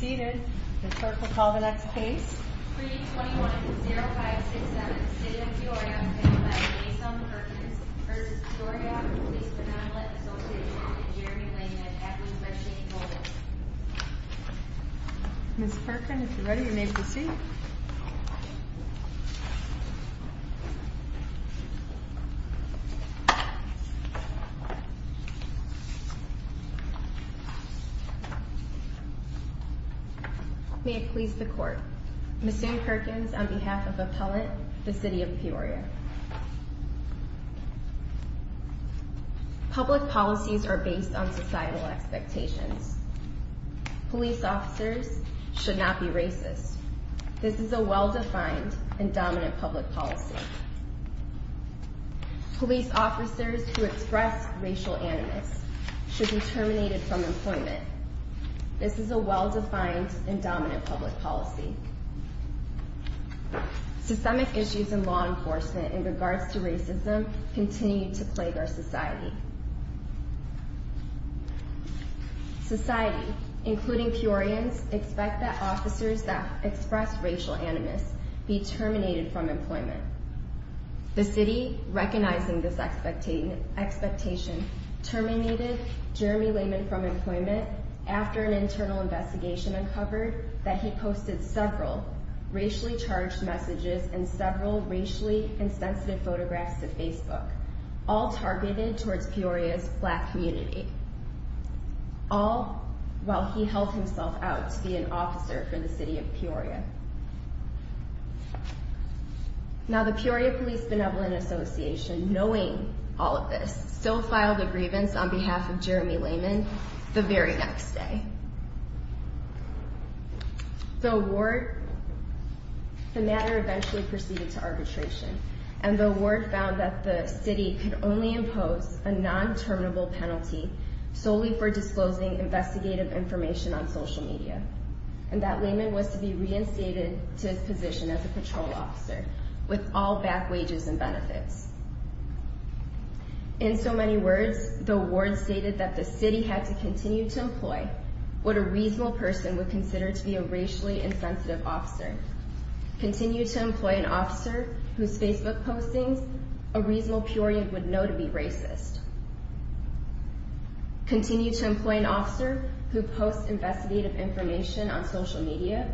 Seated. Ms. Perkins will call the next case. Pre-21-0567, City of Peoria v. Peoria Police Benevolent Association. Jeremy Langen, acting by Shane Goldman. Ms. Perkins, if you're ready, you may proceed. May it please the Court. Ms. Sue Perkins, on behalf of Appellant, the City of Peoria. Public policies are based on societal expectations. Police officers should not be racist. This is a well-defined and dominant public policy. Police officers who express racial animus should be terminated from employment. This is a well-defined and dominant public policy. Systemic issues in law enforcement in regards to racism continue to plague our society. Society, including Peorians, expect that officers that express racial animus be terminated from employment. The City, recognizing this expectation, terminated Jeremy Langen from employment after an internal investigation uncovered that he posted several racially charged messages and several racially insensitive photographs to Facebook, all targeted towards Peoria's black community. All while he held himself out to be an officer for the City of Peoria. Now, the Peoria Police Benevolent Association, knowing all of this, still filed a grievance on behalf of Jeremy Langen the very next day. The matter eventually proceeded to arbitration, and the ward found that the City could only impose a non-terminable penalty solely for disclosing investigative information on social media, and that Langen was to be reinstated to his position as a patrol officer with all back wages and benefits. In so many words, the ward stated that the City had to continue to employ what a reasonable person would consider to be a racially insensitive officer. Continue to employ an officer whose Facebook postings a reasonable Peorian would know to be racist. Continue to employ an officer who posts investigative information on social media.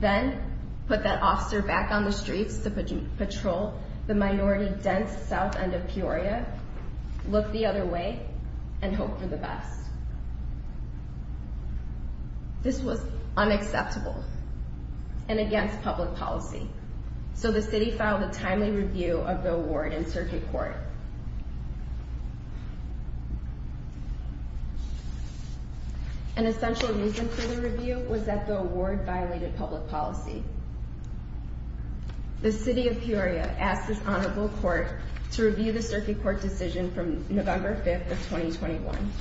Then, put that officer back on the streets to patrol the minority-dense south end of Peoria, look the other way, and hope for the best. This was unacceptable and against public policy, so the City filed a timely review of the award in Circuit Court. An essential reason for the review was that the award violated public policy. The City of Peoria asked this Honorable Court to review the Circuit Court decision from November 5th of 2021,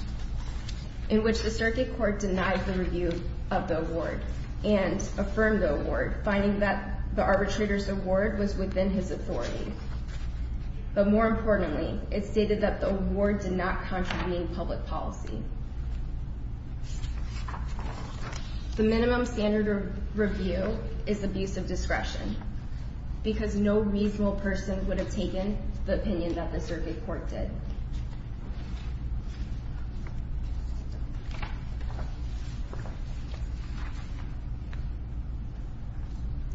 in which the Circuit Court denied the review of the award, and affirmed the award, finding that the arbitrator's award was within his authority. But more importantly, it stated that the award did not contravene public policy. The minimum standard of review is abuse of discretion, because no reasonable person would have taken the opinion that the Circuit Court did.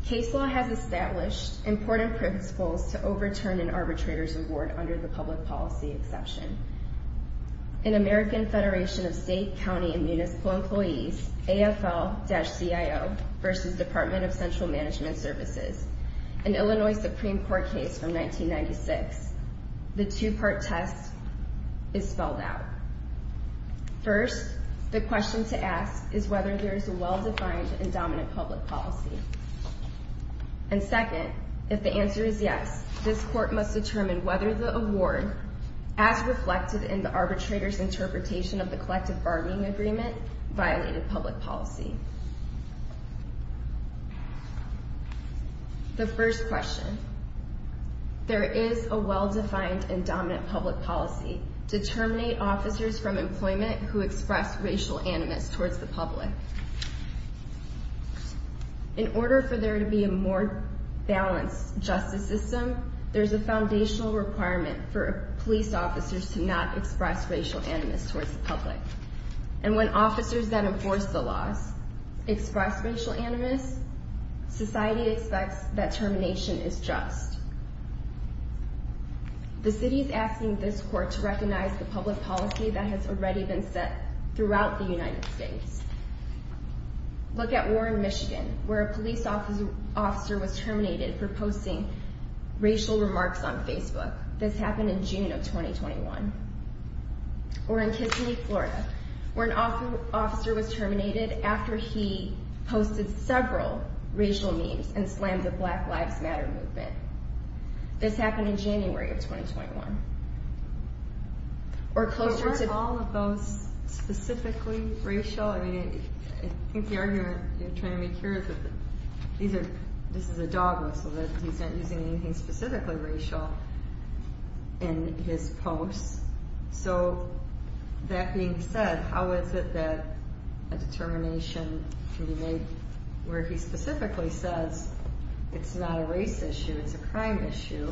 Case law has established important principles to overturn an arbitrator's award under the public policy exception. In American Federation of State, County, and Municipal Employees, AFL-CIO v. Department of Central Management Services, an Illinois Supreme Court case from 1996, the two-part test is spelled out. First, the question to ask is whether there is a well-defined and dominant public policy. And second, if the answer is yes, this Court must determine whether the award, as reflected in the arbitrator's interpretation of the collective bargaining agreement, violated public policy. The first question, there is a well-defined and dominant public policy to terminate officers from employment who express racial animus towards the public. In order for there to be a more balanced justice system, there's a foundational requirement for police officers to not express racial animus towards the public. And when officers that enforce the laws express racial animus, society expects that termination is just. The City is asking this Court to recognize the public policy that has already been set throughout the United States. Look at Warren, Michigan, where a police officer was terminated for posting racial remarks on Facebook. This happened in June of 2021. Or in Kissimmee, Florida, where an officer was terminated after he posted several racial memes and slammed the Black Lives Matter movement. This happened in January of 2021. Or closer to... But weren't all of those specifically racial? I mean, I think the argument you're trying to make here is that these are... He's not using anything specifically racial in his posts. So, that being said, how is it that a determination can be made where he specifically says it's not a race issue, it's a crime issue?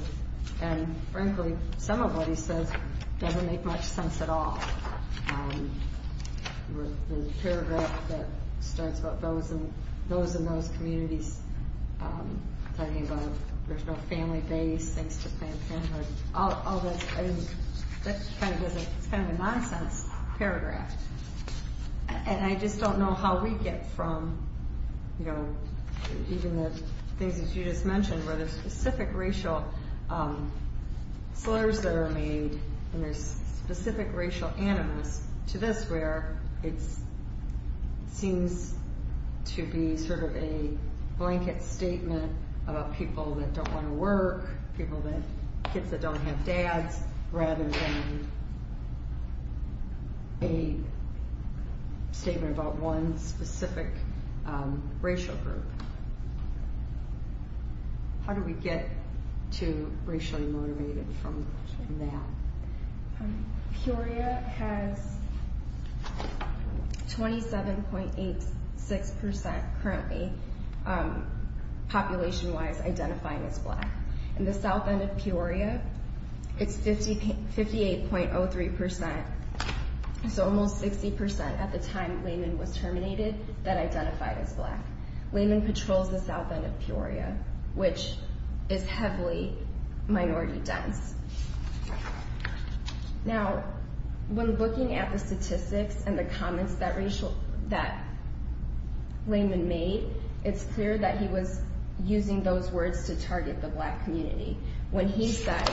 And frankly, some of what he says doesn't make much sense at all. The paragraph that starts about those in those communities, talking about there's no family base, thanks to family... All that, I mean, that's kind of a nonsense paragraph. And I just don't know how we get from, you know, even the things that you just mentioned, where there's specific racial slurs that are made, and there's specific racial animus to this, where it seems to be sort of a blanket statement about people that don't want to work, people that, kids that don't have dads, rather than a statement about one specific racial group. How do we get to racially motivated from that? Peoria has 27.86% currently, population-wise, identifying as black. In the south end of Peoria, it's 58.03%, so almost 60% at the time Lehman was terminated that identified as black. Lehman patrols the south end of Peoria, which is heavily minority-dense. Now, when looking at the statistics and the comments that Lehman made, it's clear that he was using those words to target the black community. When he said,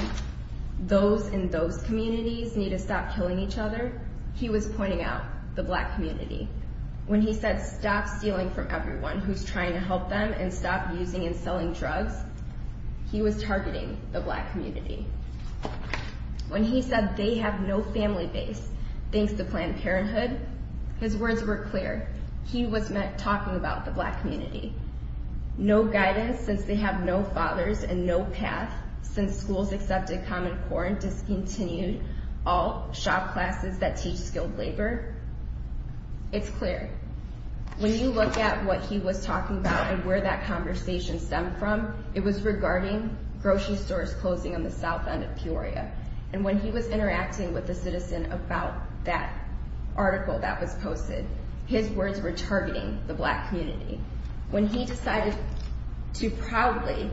those in those communities need to stop killing each other, he was pointing out the black community. When he said, stop stealing from everyone who's trying to help them, and stop using and selling drugs, he was targeting the black community. When he said, they have no family base, thanks to Planned Parenthood, his words were clear. He was talking about the black community. No guidance, since they have no fathers and no path, since schools accepted common core and discontinued all shop classes that teach skilled labor. It's clear. When you look at what he was talking about and where that conversation stemmed from, it was regarding grocery stores closing on the south end of Peoria. And when he was interacting with a citizen about that article that was posted, his words were targeting the black community. When he decided to proudly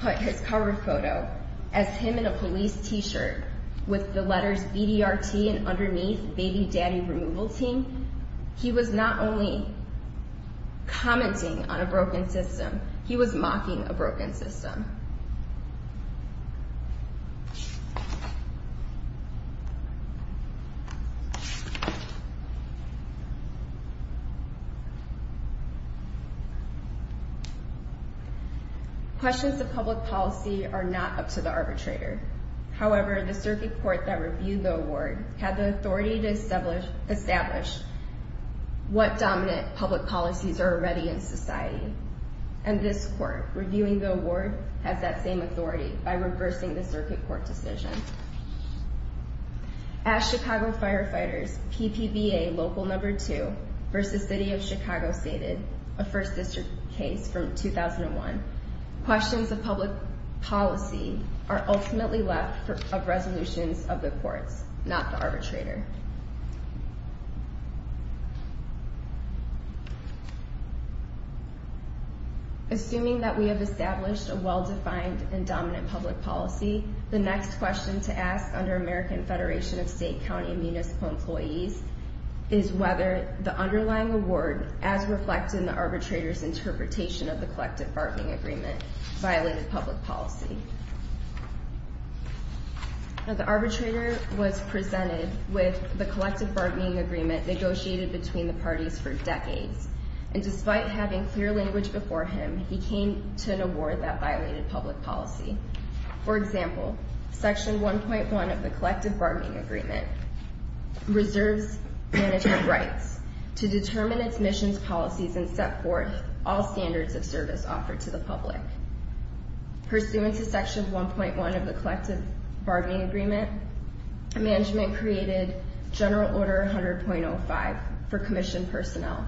put his cover photo as him in a police t-shirt with the letters BDRT and underneath Baby Daddy Removal Team, he was not only commenting on a broken system, he was mocking a broken system. Questions of public policy are not up to the arbitrator. However, the circuit court that reviewed the award had the authority to establish what dominant public policies are already in society. And this court, reviewing the award, has that same authority by reversing the circuit court decision. At Chicago Firefighters, PPVA Local No. 2 v. City of Chicago stated, a First District case from 2001, questions of public policy are ultimately left of resolutions of the courts, not the arbitrator. Assuming that we have established a well-defined and dominant public policy, the next question to ask under American Federation of State, County, and Municipal Employees is whether the underlying award, as reflected in the arbitrator's interpretation of the collective bargaining agreement, violated public policy. Now, the arbitrator was presented with the collective bargaining agreement negotiated between the parties for decades. And despite having clear language before him, he came to an award that violated public policy. For example, Section 1.1 of the collective bargaining agreement reserves management rights to determine its mission's policies and set forth all standards of service offered to the public. Pursuant to Section 1.1 of the collective bargaining agreement, management created General Order 100.05 for commissioned personnel,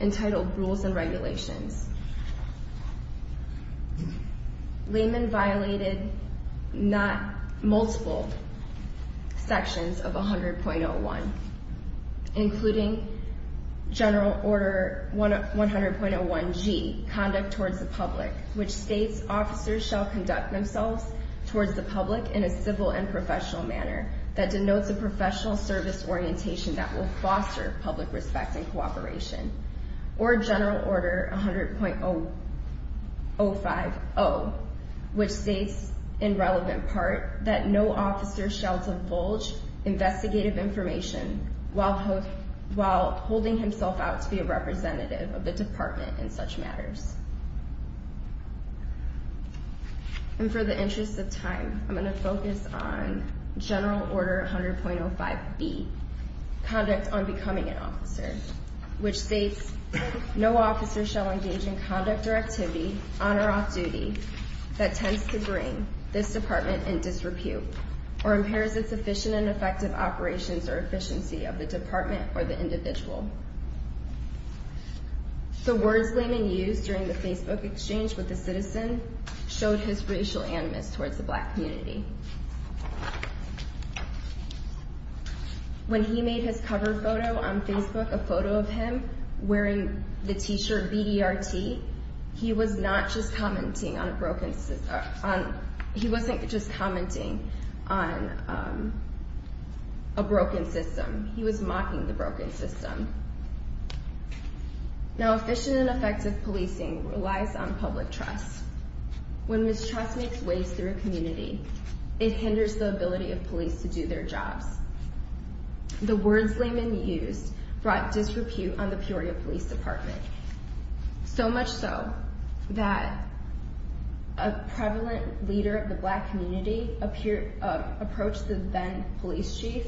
entitled Rules and Regulations. Layman violated not multiple sections of 100.01, including General Order 100.01G, Conduct Towards the Public, which states officers shall conduct themselves towards the public in a civil and professional manner that denotes a professional service orientation that will foster public respect and cooperation. Or General Order 100.050, which states, in relevant part, that no officer shall divulge investigative information while holding himself out to be a representative of the department in such matters. And for the interest of time, I'm going to focus on General Order 100.05B, Conduct on Becoming an Officer, which states, no officer shall engage in conduct or activity on or off duty that tends to bring this department in disrepute or impairs its efficient and effective operations or efficiency of the department or the individual. The words Layman used during the Facebook exchange with a citizen showed his racial animus towards the black community. When he made his cover photo on Facebook, a photo of him wearing the t-shirt BDRT, he was not just commenting on a broken system. He wasn't just commenting on a broken system. He was mocking the broken system. Now, efficient and effective policing relies on public trust. When mistrust makes ways through a community, it hinders the ability of police to do their jobs. The words Layman used brought disrepute on the Peoria Police Department. So much so that a prevalent leader of the black community approached the then police chief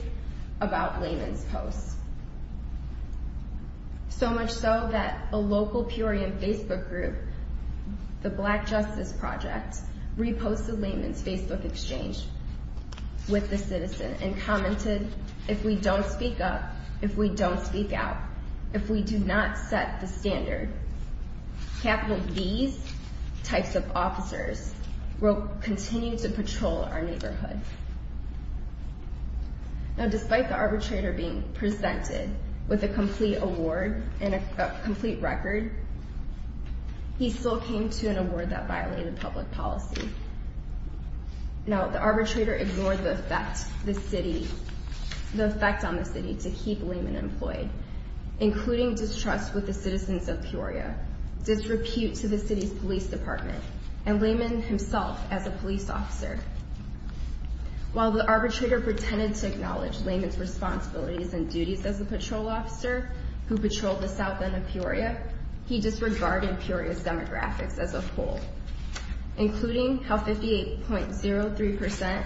about Layman's posts. So much so that a local Peoria Facebook group, the Black Justice Project, reposted Layman's Facebook exchange with the citizen and commented, if we don't speak up, if we don't speak out, if we do not set the standard, these types of officers will continue to patrol our neighborhood. Now, despite the arbitrator being presented with a complete award and a complete record, he still came to an award that violated public policy. Now, the arbitrator ignored the effect on the city to keep Layman employed, including distrust with the citizens of Peoria, disrepute to the city's police department, and Layman himself as a police officer. While the arbitrator pretended to acknowledge Layman's responsibilities and duties as a patrol officer who patrolled the south end of Peoria, he disregarded Peoria's demographics as a whole, including how 58.03%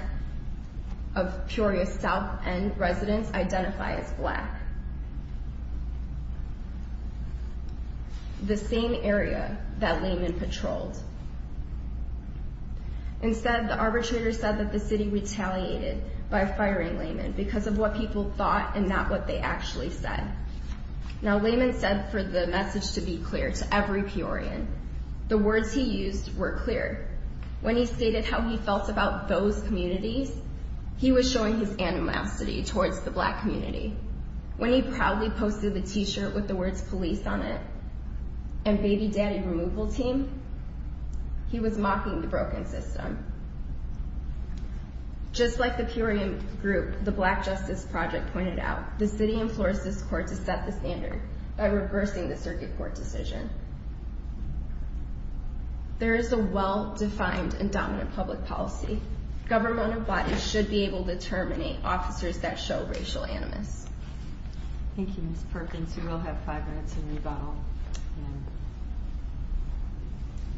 of Peoria's south end residents identify as black. The same area that Layman patrolled. Instead, the arbitrator said that the city retaliated by firing Layman because of what people thought and not what they actually said. Now, Layman said for the message to be clear to every Peorian, the words he used were clear. When he stated how he felt about those communities, he was showing his animosity towards the black community. When he proudly posted a t-shirt with the words police on it and baby daddy removal team, he was mocking the broken system. Just like the Peorian group, the Black Justice Project pointed out, the city enforced this court to set the standard by reversing the circuit court decision. There is a well-defined and dominant public policy. Governmental bodies should be able to terminate officers that show racial animus. Thank you, Ms. Perkins. You will have five minutes to rebuttal.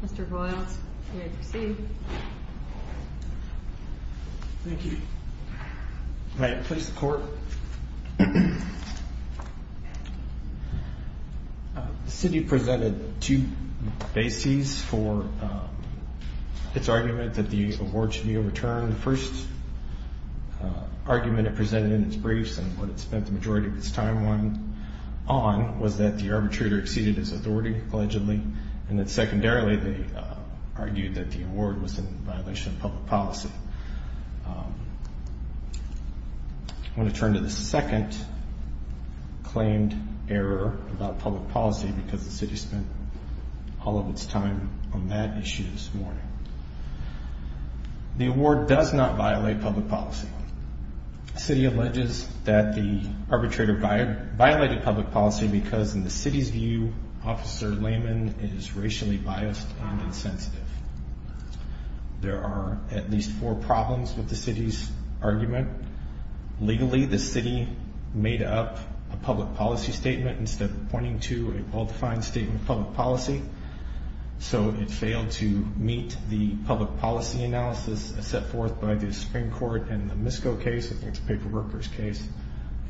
Mr. Boyles, you may proceed. Thank you. May it please the court. The city presented two bases for its argument that the award should be overturned. The first argument it presented in its briefs and what it spent the majority of its time on was that the arbitrator exceeded its authority, allegedly, and that secondarily they argued that the award was in violation of public policy. I want to turn to the second claimed error about public policy because the city spent all of its time on that issue this morning. The award does not violate public policy. The city alleges that the arbitrator violated public policy because in the city's view, Officer Lehman is racially biased and insensitive. There are at least four problems with the city's argument. Legally, the city made up a public policy statement instead of pointing to a well-defined statement of public policy. So it failed to meet the public policy analysis set forth by the Supreme Court in the Misko case. I think it's a paperworker's case.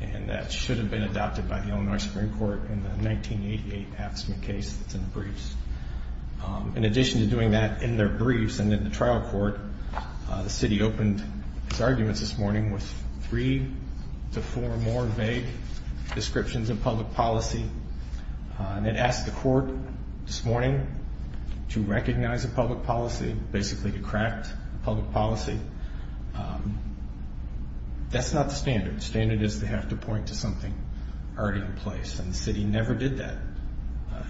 And that should have been adopted by the Illinois Supreme Court in the 1988 Axman case that's in the briefs. In addition to doing that in their briefs and in the trial court, the city opened its arguments this morning with three to four more vague descriptions of public policy. And it asked the court this morning to recognize a public policy, basically to craft a public policy. That's not the standard. The standard is they have to point to something already in place. And the city never did that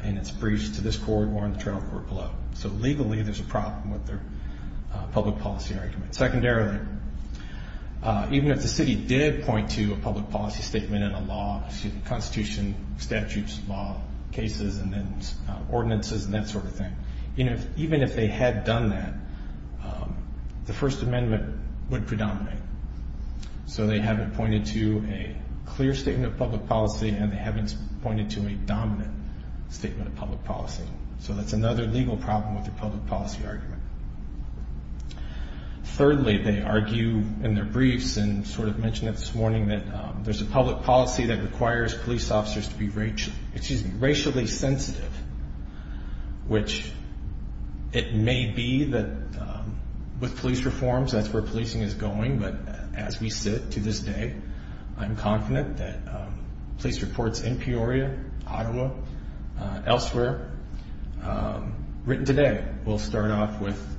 in its briefs to this court or in the trial court below. So legally, there's a problem with their public policy argument. Secondarily, even if the city did point to a public policy statement and a law, constitution, statutes, law, cases, and then ordinances and that sort of thing, even if they had done that, the First Amendment would predominate. So they haven't pointed to a clear statement of public policy and they haven't pointed to a dominant statement of public policy. So that's another legal problem with the public policy argument. Thirdly, they argue in their briefs and sort of mentioned it this morning that there's a public policy that requires police officers to be racially sensitive, which it may be that with police reforms, that's where policing is going. But as we sit to this day, I'm confident that police reports in Peoria, Ottawa, elsewhere, written today, will start off with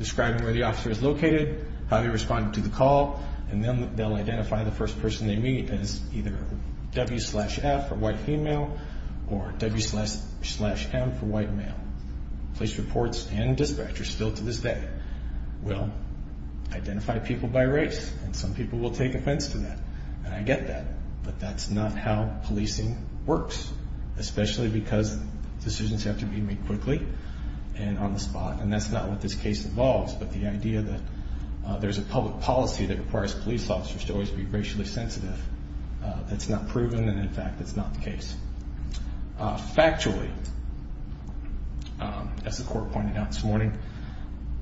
describing where the officer is located, how he responded to the call, and then they'll identify the first person they meet as either W slash F for white female or W slash M for white male. Police reports and dispatchers still to this day will identify people by race and some people will take offense to that. And I get that, but that's not how policing works, especially because decisions have to be made quickly and on the spot, and that's not what this case involves. But the idea that there's a public policy that requires police officers to always be racially sensitive, that's not proven, and in fact, that's not the case. Factually, as the court pointed out this morning,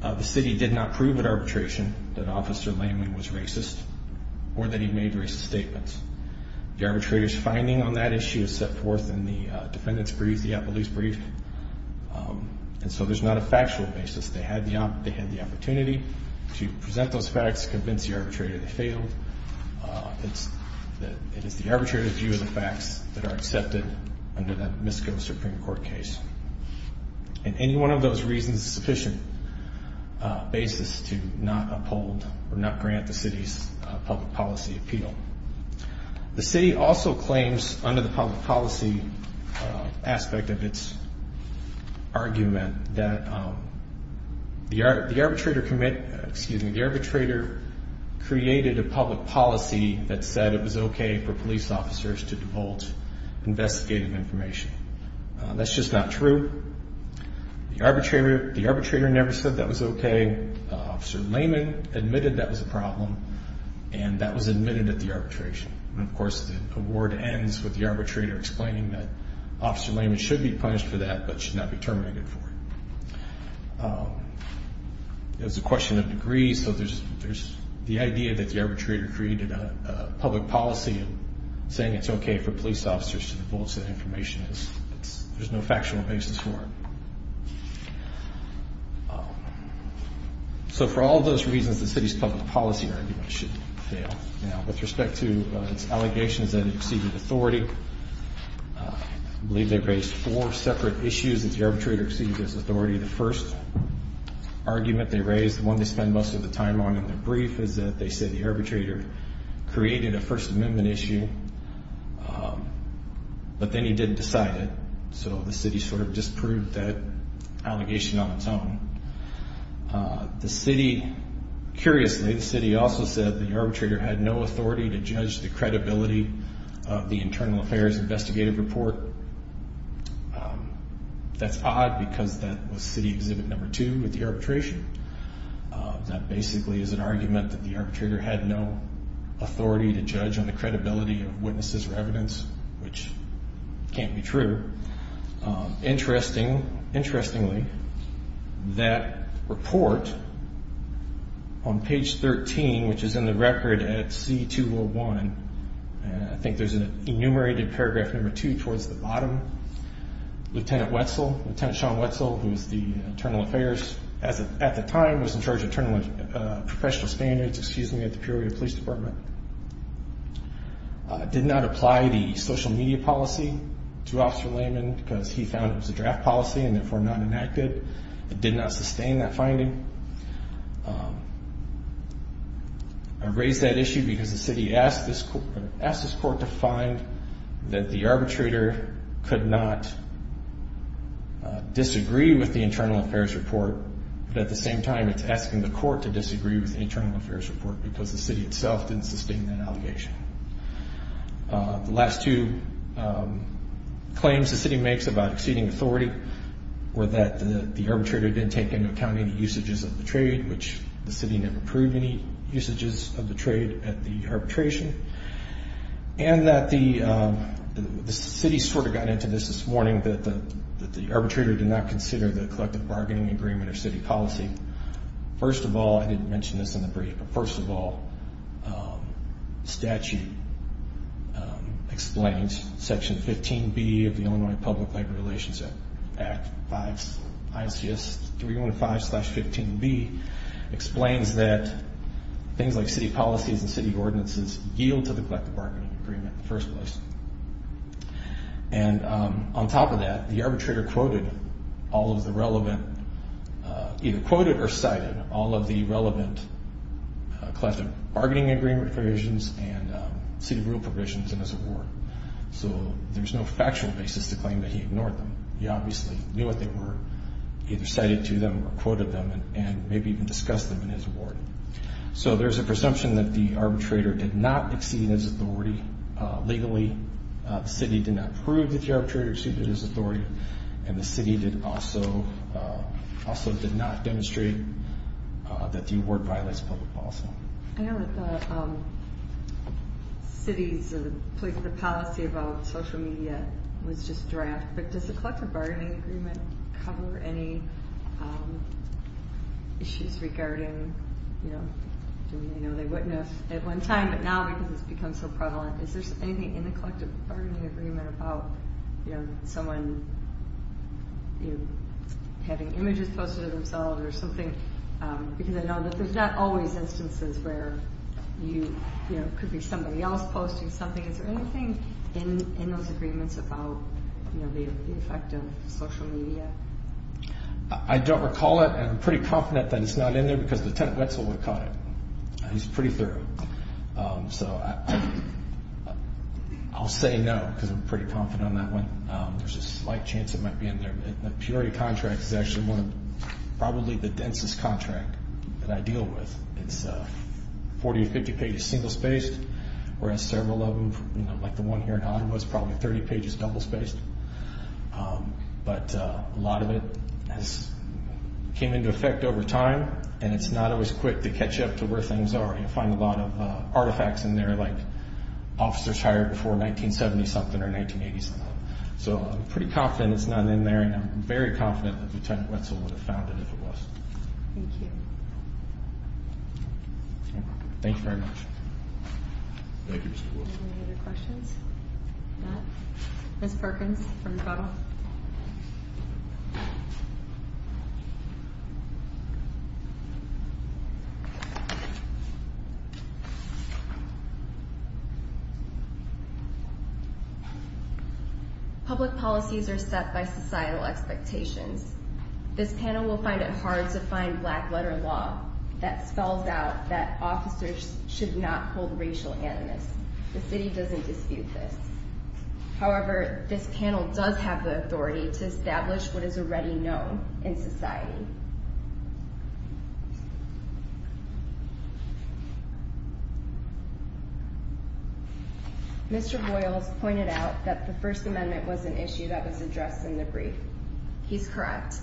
the city did not prove at arbitration that Officer Lamey was racist or that he made racist statements. The arbitrator's finding on that issue is set forth in the defendant's brief, the police brief, and so there's not a factual basis. They had the opportunity to present those facts, convince the arbitrator they failed. It is the arbitrator's view of the facts that are accepted under that Misko Supreme Court case. And any one of those reasons is sufficient basis to not uphold or not grant the city's public policy appeal. The city also claims under the public policy aspect of its argument that the arbitrator committed, excuse me, the arbitrator created a public policy that said it was okay for police officers to divulge investigative information. That's just not true. The arbitrator never said that was okay. Officer Lamey admitted that was a problem, and that was admitted at the arbitration. And of course, the award ends with the arbitrator explaining that Officer Lamey should be punished for that, but should not be terminated for it. It was a question of degree, so there's the idea that the arbitrator created a public policy and saying it's okay for police officers to divulge that information. There's no factual basis for it. So for all those reasons, the city's public policy argument should fail. Now, with respect to its allegations that it exceeded authority, I believe they raised four separate issues that the arbitrator exceeded his authority. The first argument they raised, the one they spend most of the time on in their brief, was that they said the arbitrator created a First Amendment issue, but then he didn't decide it. So the city sort of disproved that allegation on its own. Curiously, the city also said the arbitrator had no authority to judge the credibility of the internal affairs investigative report. That's odd because that was city exhibit number two at the arbitration. That basically is an argument that the arbitrator had no authority to judge on the credibility of witnesses or evidence, which can't be true. Interestingly, that report on page 13, which is in the record at C-201, I think there's an enumerated paragraph number two towards the bottom, Lieutenant Wetzel, Lieutenant Shawn Wetzel, who was the internal affairs, at the time was in charge of professional standards at the Peoria Police Department, did not apply the social media policy to Officer Lehman because he found it was a draft policy and therefore not enacted. It did not sustain that finding. I raise that issue because the city asked this court to find that the arbitrator could not disagree with the internal affairs report, but at the same time, it's asking the court to disagree with the internal affairs report because the city itself didn't sustain that allegation. The last two claims the city makes about exceeding authority were that the arbitrator didn't take into account any usages of the trade, which the city never proved any usages of the trade at the arbitration, and that the city sort of got into this this morning, that the arbitrator did not consider the collective bargaining agreement or city policy. First of all, I didn't mention this in the brief, but first of all, the statute explains Section 15B of the Illinois Public Labor Relations Act, ICS 315-15B, explains that things like city policies and city ordinances yield to the collective bargaining agreement in the first place. And on top of that, the arbitrator quoted all of the relevant, either quoted or cited all of the relevant collective bargaining agreement provisions and city rule provisions in his award. So there's no factual basis to claim that he ignored them. He obviously knew what they were, either cited to them or quoted them, and maybe even discussed them in his award. So there's a presumption that the arbitrator did not exceed his authority legally, the city did not prove that the arbitrator exceeded his authority, and the city also did not demonstrate that the award violates public policy. I know that the city's policy about social media was just draft, but does the collective bargaining agreement cover any issues regarding, you know, doing any other witness at one time, but now because it's become so prevalent, is there anything in the collective bargaining agreement about, you know, someone having images posted of themselves or something? Because I know that there's not always instances where you, you know, it could be somebody else posting something. Is there anything in those agreements about, you know, the effect of social media? I don't recall it, and I'm pretty confident that it's not in there because Lieutenant Wetzel would have caught it. He's pretty thorough. So I'll say no, because I'm pretty confident on that one. There's a slight chance it might be in there. The Purity contract is actually one of probably the densest contracts that I deal with. It's 40 to 50 pages single-spaced, whereas several of them, you know, like the one here in Ottawa, it's probably 30 pages double-spaced. But a lot of it has came into effect over time, and it's not always quick to catch up to where things are. You know, you find a lot of artifacts in there, like officers hired before 1970-something or 1980-something. So I'm pretty confident it's not in there, and I'm very confident that Lieutenant Wetzel would have found it if it was. Thank you. Thank you very much. Thank you, Mr. Willis. Any other questions? No? Ms. Perkins from Utah. Thank you. Public policies are set by societal expectations. This panel will find it hard to find black-letter law that spells out that officers should not hold racial animus. The city doesn't dispute this. However, this panel does have the authority to establish what is already known in society. Mr. Boyles pointed out that the First Amendment was an issue that was addressed in the brief. He's correct.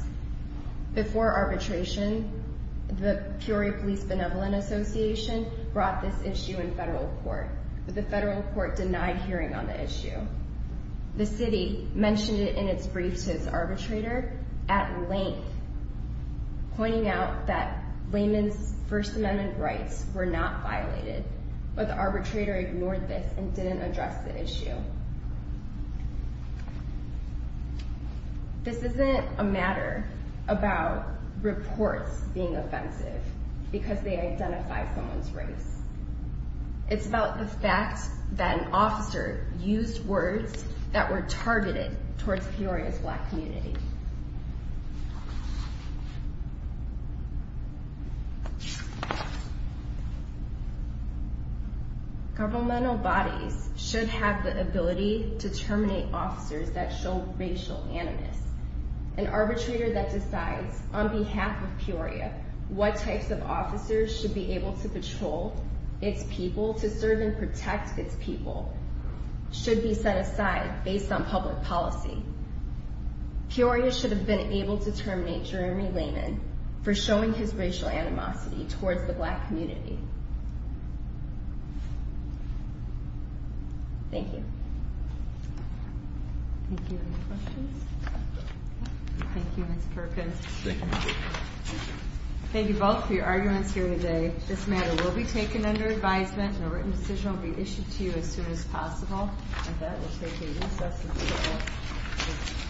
Before arbitration, the Peoria Police Benevolent Association brought this issue in federal court, but the federal court denied hearing on the issue. The city mentioned it in its brief to its arbitrator at length, pointing out that layman's First Amendment rights were not violated, but the arbitrator ignored this and didn't address the issue. This isn't a matter about reports being offensive because they identify someone's race. It's about the fact that an officer used words that were targeted towards Peoria's black community. Governmental bodies should have the ability to terminate officers that show racial animus. An arbitrator that decides, on behalf of Peoria, what types of officers should be able to patrol its people to serve and protect its people should be set aside based on public policy. Peoria should have been able to terminate Jeremy Layman for showing his racial animosity towards the black community. Thank you. Thank you. Any questions? Thank you, Ms. Perkins. Thank you both for your arguments here today. This matter will be taken under advisement, and a written decision will be issued to you as soon as possible. With that, we'll take recess until 12.